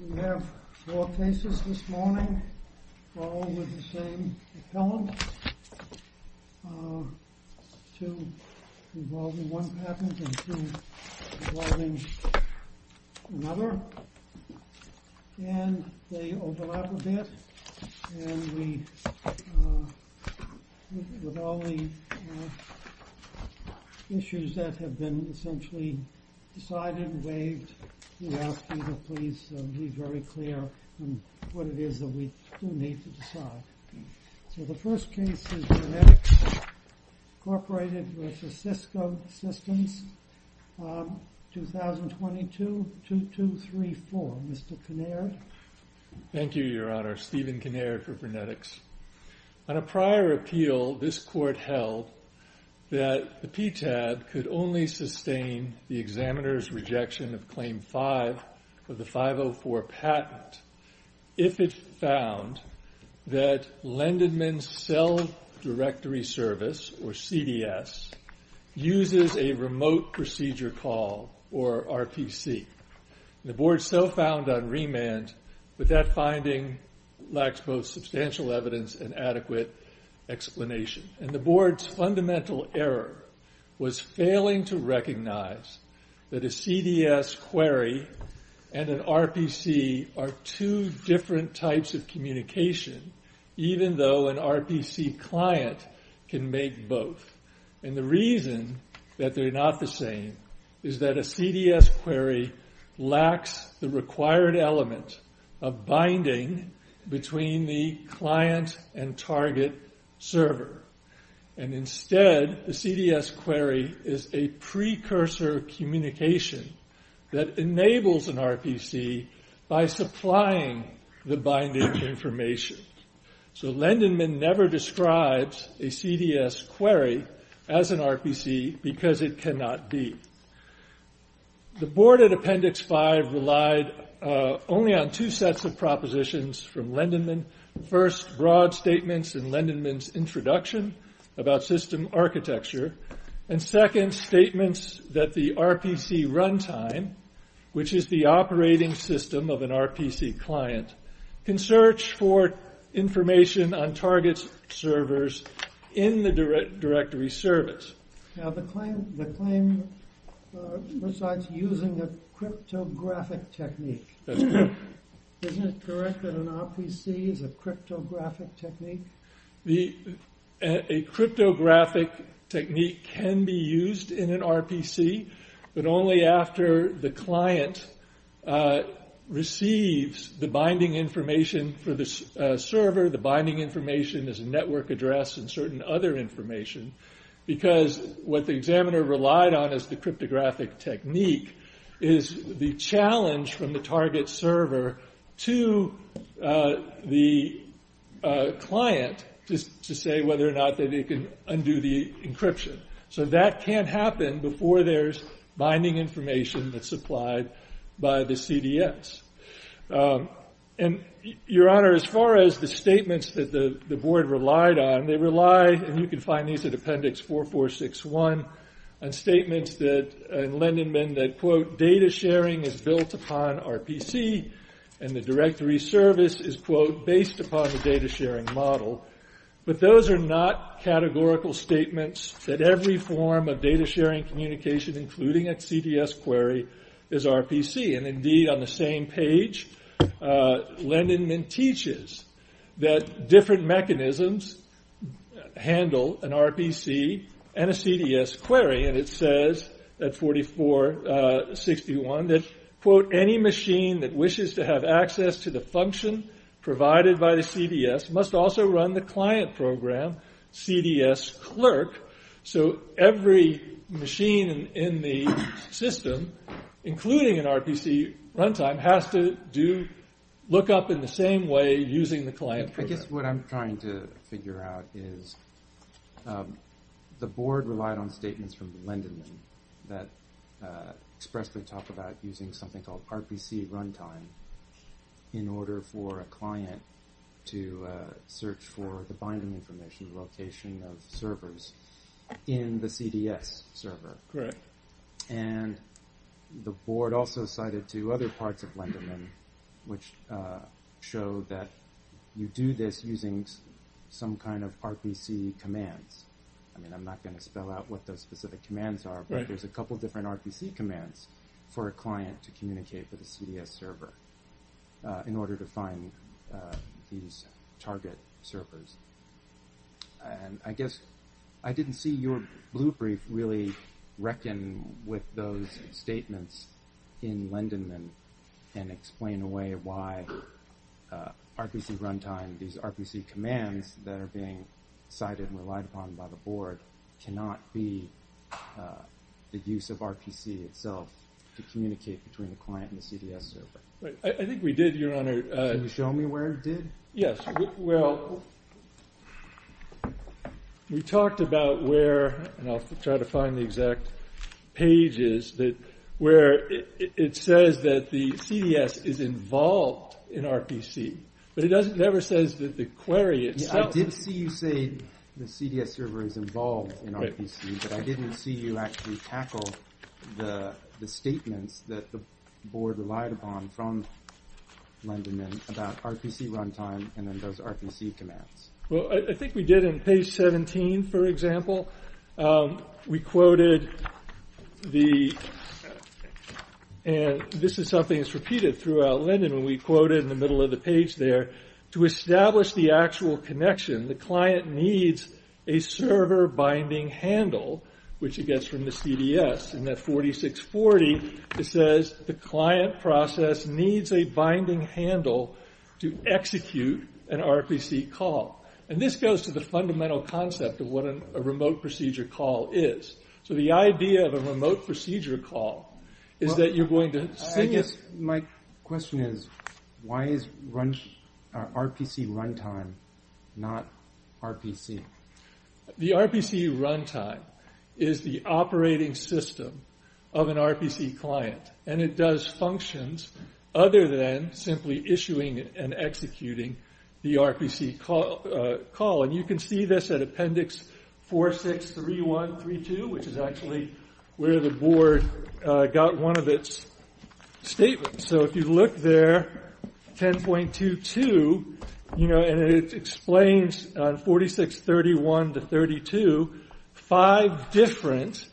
We have four cases this morning, all with the same appellant, two involving one patent and two involving another, and they overlap a bit. And we, with all the issues that have been essentially decided and waived, we ask you to please be very clear on what it is that we do need to decide. So the first case is v. Incorporated v. Cisco Systems, 2022-2234. Mr. Kinnaird? Thank you, Your Honor. Stephen Kinnaird for VernetX. On a prior appeal, this Court held that the PTAB could only sustain the examiner's rejection of Claim 5 of the 504 patent if it found that Lendedman Cell Directory Service, or CDS, uses a remote procedure call, or RPC. The Board so found on remand that that finding lacks both substantial evidence and adequate explanation. And the Board's fundamental error was failing to recognize that a CDS query and an RPC are two different types of communication, even though an RPC client can make both. And the reason that they're not the same is that a CDS query lacks the required element of binding between the client and target server. And instead, a CDS query is a precursor communication that enables an RPC by supplying the binding information. So Lendedman never describes a CDS query as an RPC because it cannot be. The Board at Appendix 5 relied only on two sets of propositions from Lendedman. First, broad statements in Lendedman's introduction about system architecture. And second, statements that the RPC runtime, which is the operating system of an RPC client, can search for information on target servers in the directory service. Now the claim recites using a cryptographic technique. That's correct. Isn't it correct that an RPC is a cryptographic technique? A cryptographic technique can be used in an RPC, but only after the client receives the binding information for the server, the binding information as a network address, and certain other information. Because what the examiner relied on as the cryptographic technique is the challenge from the target server to the client to say whether or not they can undo the encryption. So that can't happen before there's binding information that's supplied by the CDS. Your Honor, as far as the statements that the Board relied on, they relied, and you can find these at Appendix 4461, on statements in Lendedman that quote, and the directory service is quote, based upon the data sharing model. But those are not categorical statements that every form of data sharing communication, including a CDS query, is RPC. And indeed, on the same page, Lendedman teaches that different mechanisms handle an RPC and a CDS query. And it says at 4461 that quote, any machine that wishes to have access to the function provided by the CDS must also run the client program CDS clerk. So every machine in the system, including an RPC runtime, has to look up in the same way using the client program. I guess what I'm trying to figure out is the Board relied on statements from Lendedman that expressly talk about using something called RPC runtime in order for a client to search for the binding information, location of servers in the CDS server. And the Board also cited two other parts of Lendedman which show that you do this using some kind of RPC commands. I mean, I'm not going to spell out what those specific commands are, but there's a couple different RPC commands for a client to communicate with a CDS server in order to find these target servers. And I guess I didn't see your blue brief really reckon with those statements in Lendedman and explain away why RPC runtime, these RPC commands that are being cited and relied upon by the Board, cannot be the use of RPC itself to communicate between the client and the CDS server. I think we did, Your Honor. Can you show me where it did? Yes. Well, we talked about where, and I'll try to find the exact pages, where it says that the CDS is involved in RPC, but it never says that the query itself. I did see you say the CDS server is involved in RPC, but I didn't see you actually tackle the statements that the Board relied upon from Lendedman about RPC runtime and then those RPC commands. Well, I think we did in page 17, for example. We quoted the, and this is something that's repeated throughout Lendedman. And we quoted in the middle of the page there, to establish the actual connection, the client needs a server binding handle, which it gets from the CDS. In that 4640, it says the client process needs a binding handle to execute an RPC call. And this goes to the fundamental concept of what a remote procedure call is. So the idea of a remote procedure call is that you're going to... I guess my question is, why is RPC runtime not RPC? The RPC runtime is the operating system of an RPC client, and it does functions other than simply issuing and executing the RPC call. And you can see this at appendix 4631-32, which is actually where the Board got one of its statements. So if you look there, 10.22, and it explains 4631-32, five different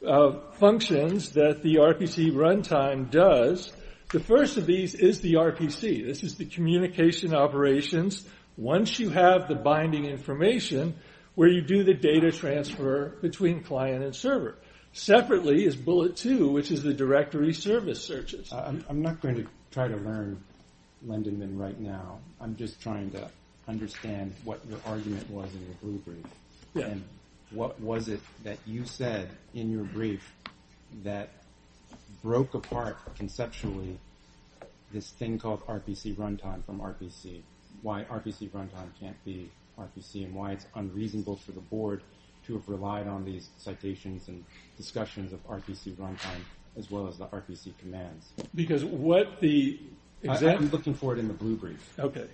functions that the RPC runtime does. The first of these is the RPC. This is the communication operations. Once you have the binding information, where you do the data transfer between client and server. Separately is bullet two, which is the directory service searches. I'm not going to try to learn Lendedman right now. I'm just trying to understand what your argument was in your brief. And what was it that you said in your brief that broke apart conceptually this thing called RPC runtime from RPC? Why RPC runtime can't be RPC, and why it's unreasonable for the Board to have relied on these citations and discussions of RPC runtime as well as the RPC commands? Because what the... I'm looking for it in the blue brief. Okay.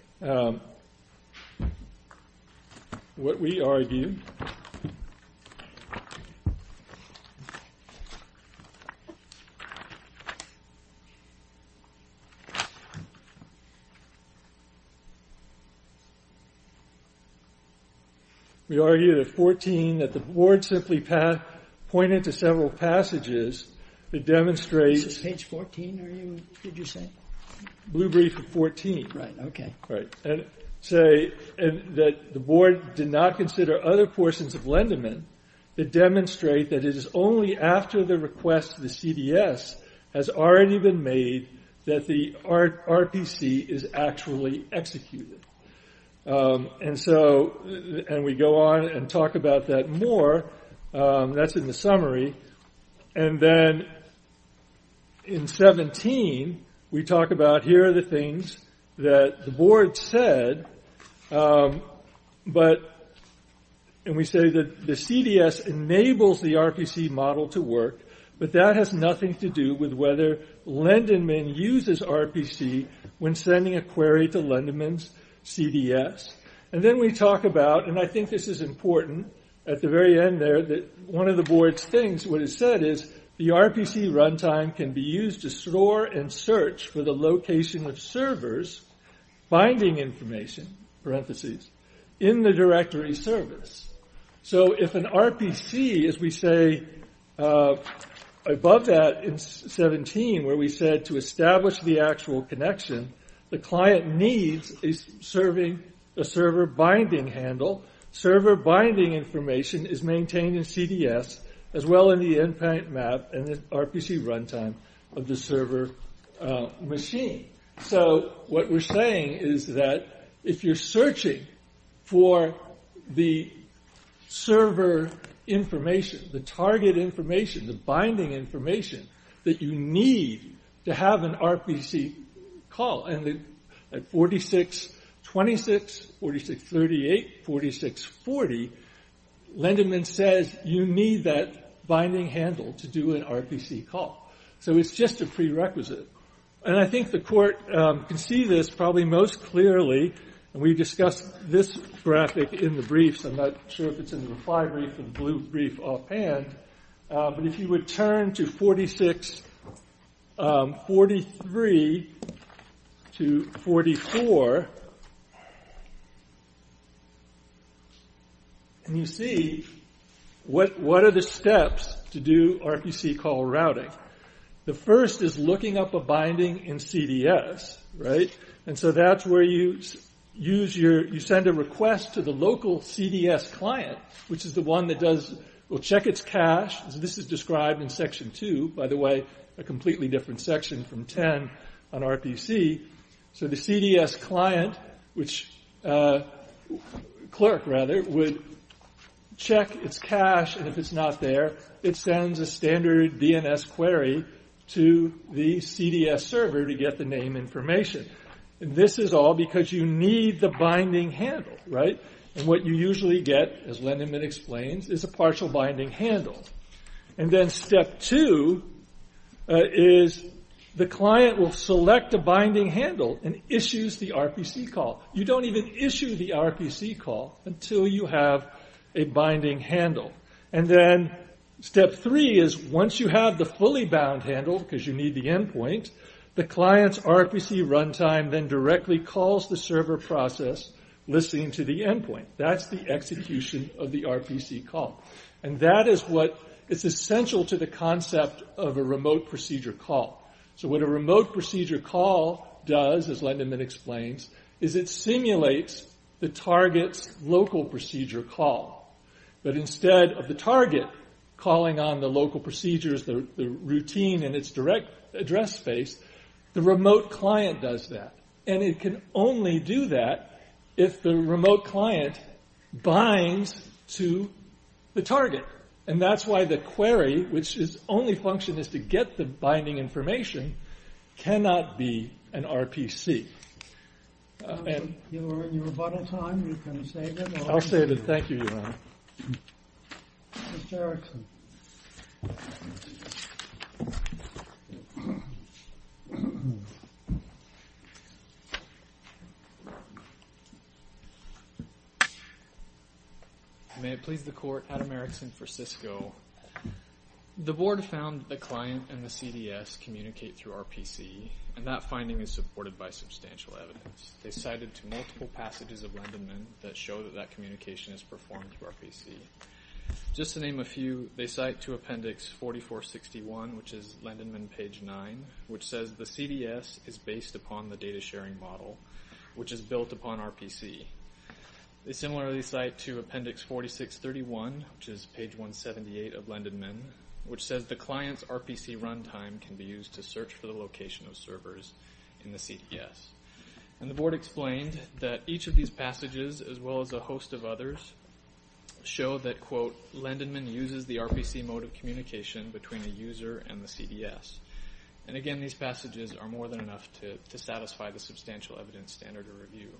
What we argued... We argued at 14 that the Board simply pointed to several passages that demonstrate... Is this page 14 that you said? Blue brief of 14. Right, okay. And say that the Board did not consider other portions of Lendedman that demonstrate that it is only after the request of the CDS has already been made that the RPC is actually executed. And so... And we go on and talk about that more. That's in the summary. And then in 17, we talk about here are the things that the Board said, but... And we say that the CDS enables the RPC model to work, but that has nothing to do with whether Lendedman uses RPC when sending a query to Lendedman's CDS. And then we talk about... And I think this is important. At the very end there, one of the Board's things, what it said is the RPC runtime can be used to store and search for the location of servers, binding information, parentheses, in the directory service. So if an RPC, as we say, above that in 17, where we said to establish the actual connection, the client needs a server binding handle. Server binding information is maintained in CDS, as well in the endpoint map and the RPC runtime of the server machine. So what we're saying is that if you're searching for the server information, the target information, the binding information, that you need to have an RPC call. And at 46.26, 46.38, 46.40, Lendedman says you need that binding handle to do an RPC call. So it's just a prerequisite. And I think the court can see this probably most clearly. And we discussed this graphic in the briefs. I'm not sure if it's in the fly brief or the blue brief offhand. But if you would turn to 46.43 to 44, you see what are the steps to do RPC call routing. The first is looking up a binding in CDS. And so that's where you send a request to the local CDS client, which is the one that will check its cache. This is described in Section 2, by the way, a completely different section from 10 on RPC. So the CDS client, which, clerk rather, would check its cache. And if it's not there, it sends a standard DNS query to the CDS server to get the name information. And this is all because you need the binding handle, right? And what you usually get, as Lendedman explains, is a partial binding handle. And then step two is the client will select a binding handle and issues the RPC call. You don't even issue the RPC call until you have a binding handle. And then step three is once you have the fully bound handle, because you need the endpoint, the client's RPC runtime then directly calls the server process listening to the endpoint. That's the execution of the RPC call. And that is what is essential to the concept of a remote procedure call. So what a remote procedure call does, as Lendedman explains, is it simulates the target's local procedure call. But instead of the target calling on the local procedures, the routine and its direct address space, the remote client does that. And it can only do that if the remote client binds to the target. And that's why the query, which its only function is to get the binding information, cannot be an RPC. You are in your rebuttal time. You can save it. I'll save it. Thank you, Your Honor. Mr. Erickson. May it please the court, Adam Erickson for Cisco. The board found the client and the CDS communicate through RPC, and that finding is supported by substantial evidence. They cited multiple passages of Lendedman that show that that communication is performed through RPC. Just to name a few, they cite to appendix 4461, which is Lendedman page 9, which says the CDS is based upon the data sharing model, which is built upon RPC. They similarly cite to appendix 4631, which is page 178 of Lendedman, which says the client's RPC runtime can be used to search for the location of servers in the CDS. And the board explained that each of these passages, as well as a host of others, show that, quote, Lendedman uses the RPC mode of communication between the user and the CDS. And again, these passages are more than enough to satisfy the substantial evidence standard to review.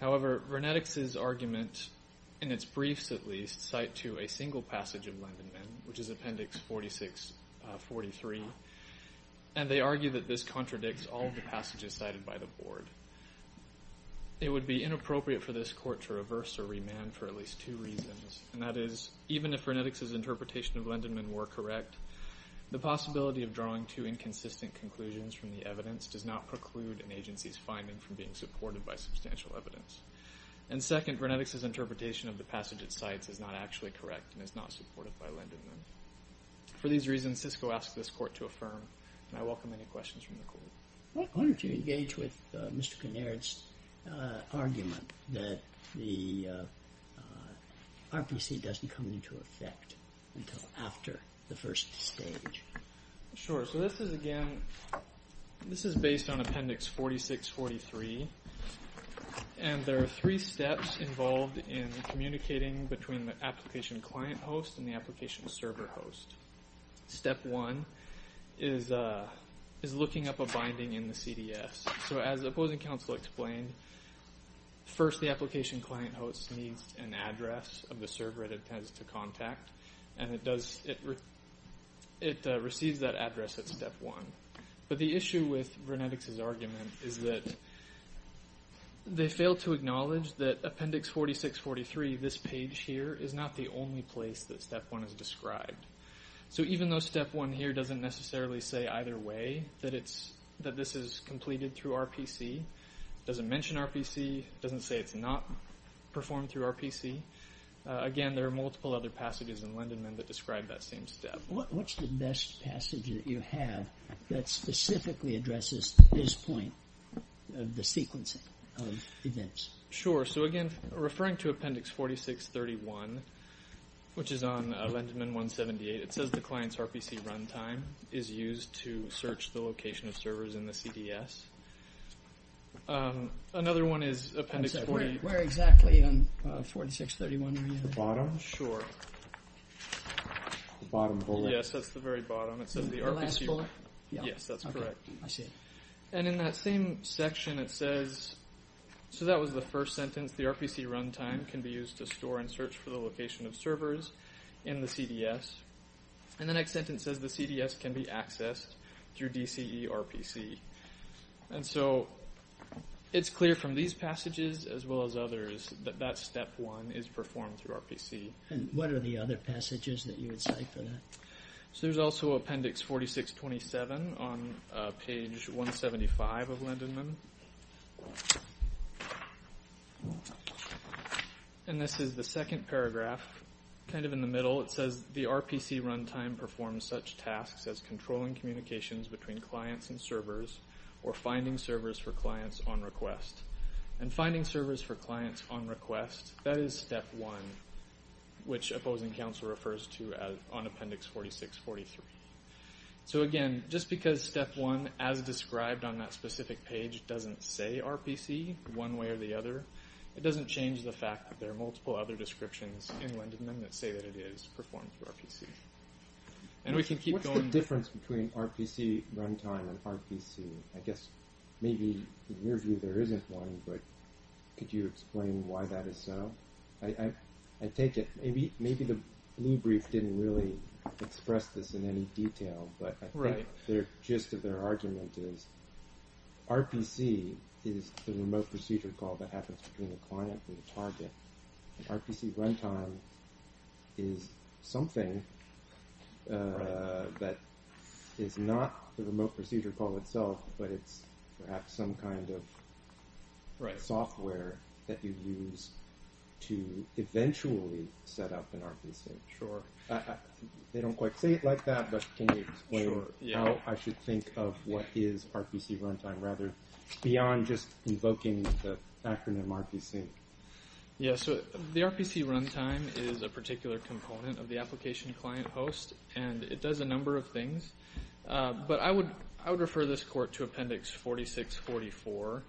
However, Vernetix's argument, in its briefs at least, cite to a single passage of Lendedman, which is appendix 4643, and they argue that this contradicts all of the passages cited by the board. It would be inappropriate for this court to reverse or remand for at least two reasons, and that is, even if Vernetix's interpretation of Lendedman were correct, the possibility of drawing two inconsistent conclusions from the evidence does not preclude an agency's finding from being supported by substantial evidence. And second, Vernetix's interpretation of the passage it cites is not actually correct and is not supported by Lendedman. For these reasons, Cisco asks this court to affirm, and I welcome any questions from the court. Why don't you engage with Mr. Kinnaird's argument that the RPC doesn't come into effect until after the first stage? Sure. So this is, again, this is based on appendix 4643, and there are three steps involved in communicating between the application client host and the application server host. Step one is looking up a binding in the CDS. So as opposing counsel explained, first the application client host needs an address of the server it intends to contact, and it receives that address at step one. But the issue with Vernetix's argument is that they fail to acknowledge that appendix 4643, this page here, is not the only place that step one is described. So even though step one here doesn't necessarily say either way that this is completed through RPC, doesn't mention RPC, doesn't say it's not performed through RPC, again, there are multiple other passages in Lendedman that describe that same step. What's the best passage that you have that specifically addresses this point of the sequencing of events? Sure. So again, referring to appendix 4631, which is on Lendedman 178, it says the client's RPC run time is used to search the location of servers in the CDS. Another one is appendix 48. Where exactly on 4631 are you? The bottom? Sure. The bottom bullet. Yes, that's the very bottom. The last bullet? Yes, that's correct. I see. And in that same section it says, so that was the first sentence, the RPC run time can be used to store and search for the location of servers in the CDS. And the next sentence says the CDS can be accessed through DCE RPC. And so it's clear from these passages as well as others that that step one is performed through RPC. And what are the other passages that you would cite for that? So there's also appendix 4627 on page 175 of Lendedman. And this is the second paragraph, kind of in the middle. It says the RPC run time performs such tasks as controlling communications between clients and servers or finding servers for clients on request. And finding servers for clients on request, that is step one, which opposing counsel refers to on appendix 4643. So, again, just because step one, as described on that specific page, doesn't say RPC one way or the other, it doesn't change the fact that there are multiple other descriptions in Lendedman that say that it is performed through RPC. And we can keep going. What's the difference between RPC run time and RPC? I guess maybe in your view there isn't one, but could you explain why that is so? I take it maybe the blue brief didn't really express this in any detail, but I think the gist of their argument is RPC is the remote procedure call that happens between the client and the target. RPC run time is something that is not the remote procedure call itself, but it's perhaps some kind of software that you use to eventually set up an RPC. Sure. They don't quite say it like that, but can you explain how I should think of what is RPC run time, or rather beyond just invoking the acronym RPC? Yeah, so the RPC run time is a particular component of the application client host, and it does a number of things. But I would refer this court to appendix 4644,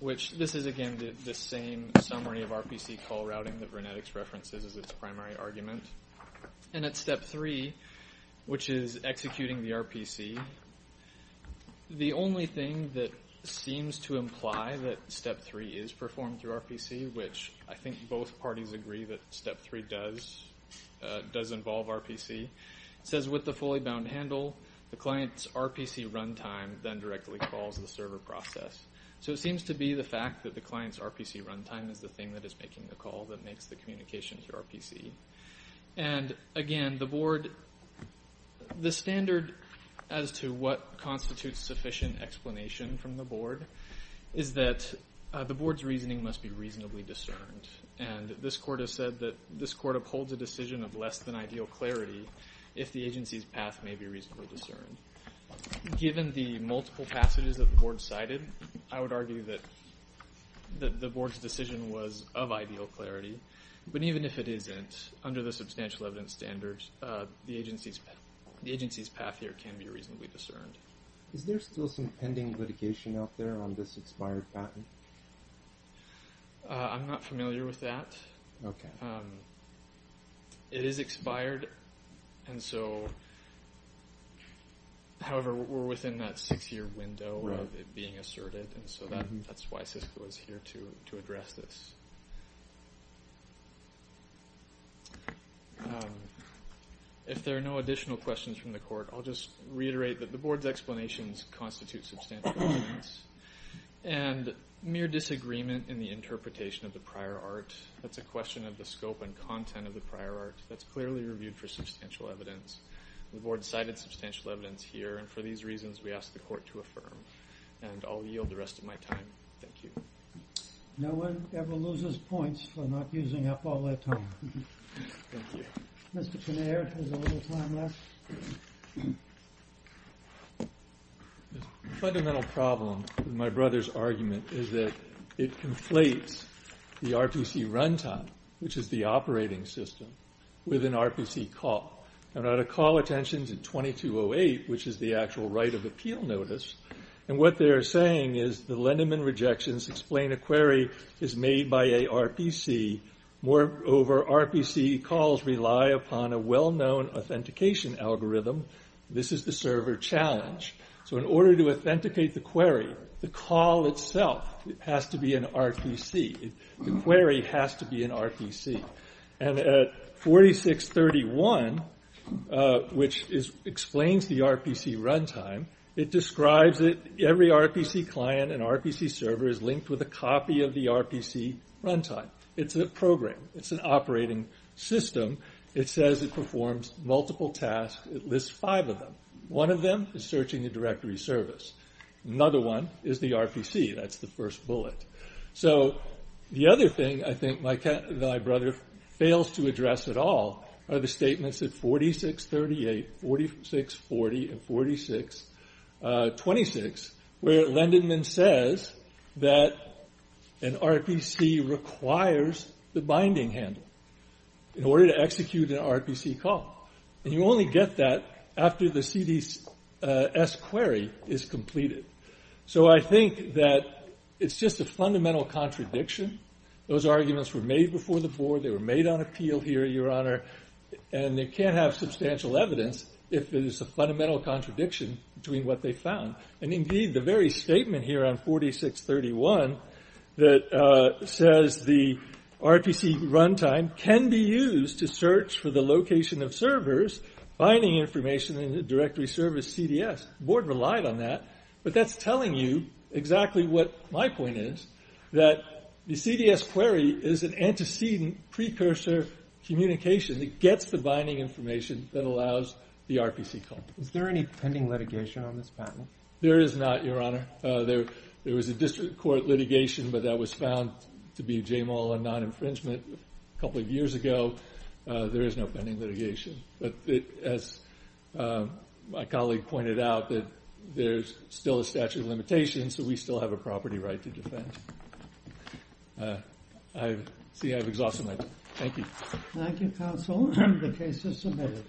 which this is, again, the same summary of RPC call routing that Vernetics references as its primary argument. And at step three, which is executing the RPC, the only thing that seems to imply that step three is performed through RPC, which I think both parties agree that step three does involve RPC, says with the fully bound handle, the client's RPC run time then directly calls the server process. So it seems to be the fact that the client's RPC run time is the thing that is making the call that makes the communication to RPC. And, again, the board, the standard as to what constitutes sufficient explanation from the board is that the board's reasoning must be reasonably discerned. And this court has said that this court upholds a decision of less than ideal clarity if the agency's path may be reasonably discerned. Given the multiple passages that the board cited, I would argue that the board's decision was of ideal clarity. But even if it isn't, under the substantial evidence standards, the agency's path here can be reasonably discerned. Is there still some pending litigation out there on this expired patent? I'm not familiar with that. It is expired. And so, however, we're within that six-year window of it being asserted. And so that's why Cisco is here to address this. If there are no additional questions from the court, I'll just reiterate that the board's explanations constitute substantial evidence. And mere disagreement in the interpretation of the prior art, that's a question of the scope and content of the prior art, that's clearly reviewed for substantial evidence. The board cited substantial evidence here, and for these reasons, we ask the court to affirm. And I'll yield the rest of my time. Thank you. No one ever loses points for not using up all their time. Thank you. Mr. Kinnear has a little time left. The fundamental problem with my brother's argument is that it conflates the RPC runtime, which is the operating system, with an RPC call. Now, to call attention to 2208, which is the actual right of appeal notice, and what they're saying is the Lindemann rejections explain a query is made by a RPC. Moreover, RPC calls rely upon a well-known authentication algorithm. This is the server challenge. So in order to authenticate the query, the call itself has to be an RPC. The query has to be an RPC. And at 4631, which explains the RPC runtime, it describes it, every RPC client and RPC server is linked with a copy of the RPC runtime. It's a program. It's an operating system. It says it performs multiple tasks. It lists five of them. One of them is searching a directory service. Another one is the RPC. That's the first bullet. So the other thing I think my brother fails to address at all are the statements at 4638, 4640, and 4626, where Lindemann says that an RPC requires the binding handle in order to execute an RPC call. And you only get that after the CDS query is completed. So I think that it's just a fundamental contradiction. Those arguments were made before the board. They were made on appeal here, Your Honor. And they can't have substantial evidence if it is a fundamental contradiction between what they found. And indeed, the very statement here on 4631 that says the RPC runtime can be used to search for the location of servers, binding information, and the directory service CDS. The board relied on that. But that's telling you exactly what my point is, that the CDS query is an antecedent precursor communication that gets the binding information that allows the RPC call. Is there any pending litigation on this patent? There is not, Your Honor. There was a district court litigation, but that was found to be JAMAL and non-infringement a couple of years ago. There is no pending litigation. But as my colleague pointed out, there's still a statute of limitations. So we still have a property right to defend. See, I've exhausted my time. Thank you. Thank you, counsel. The case is submitted.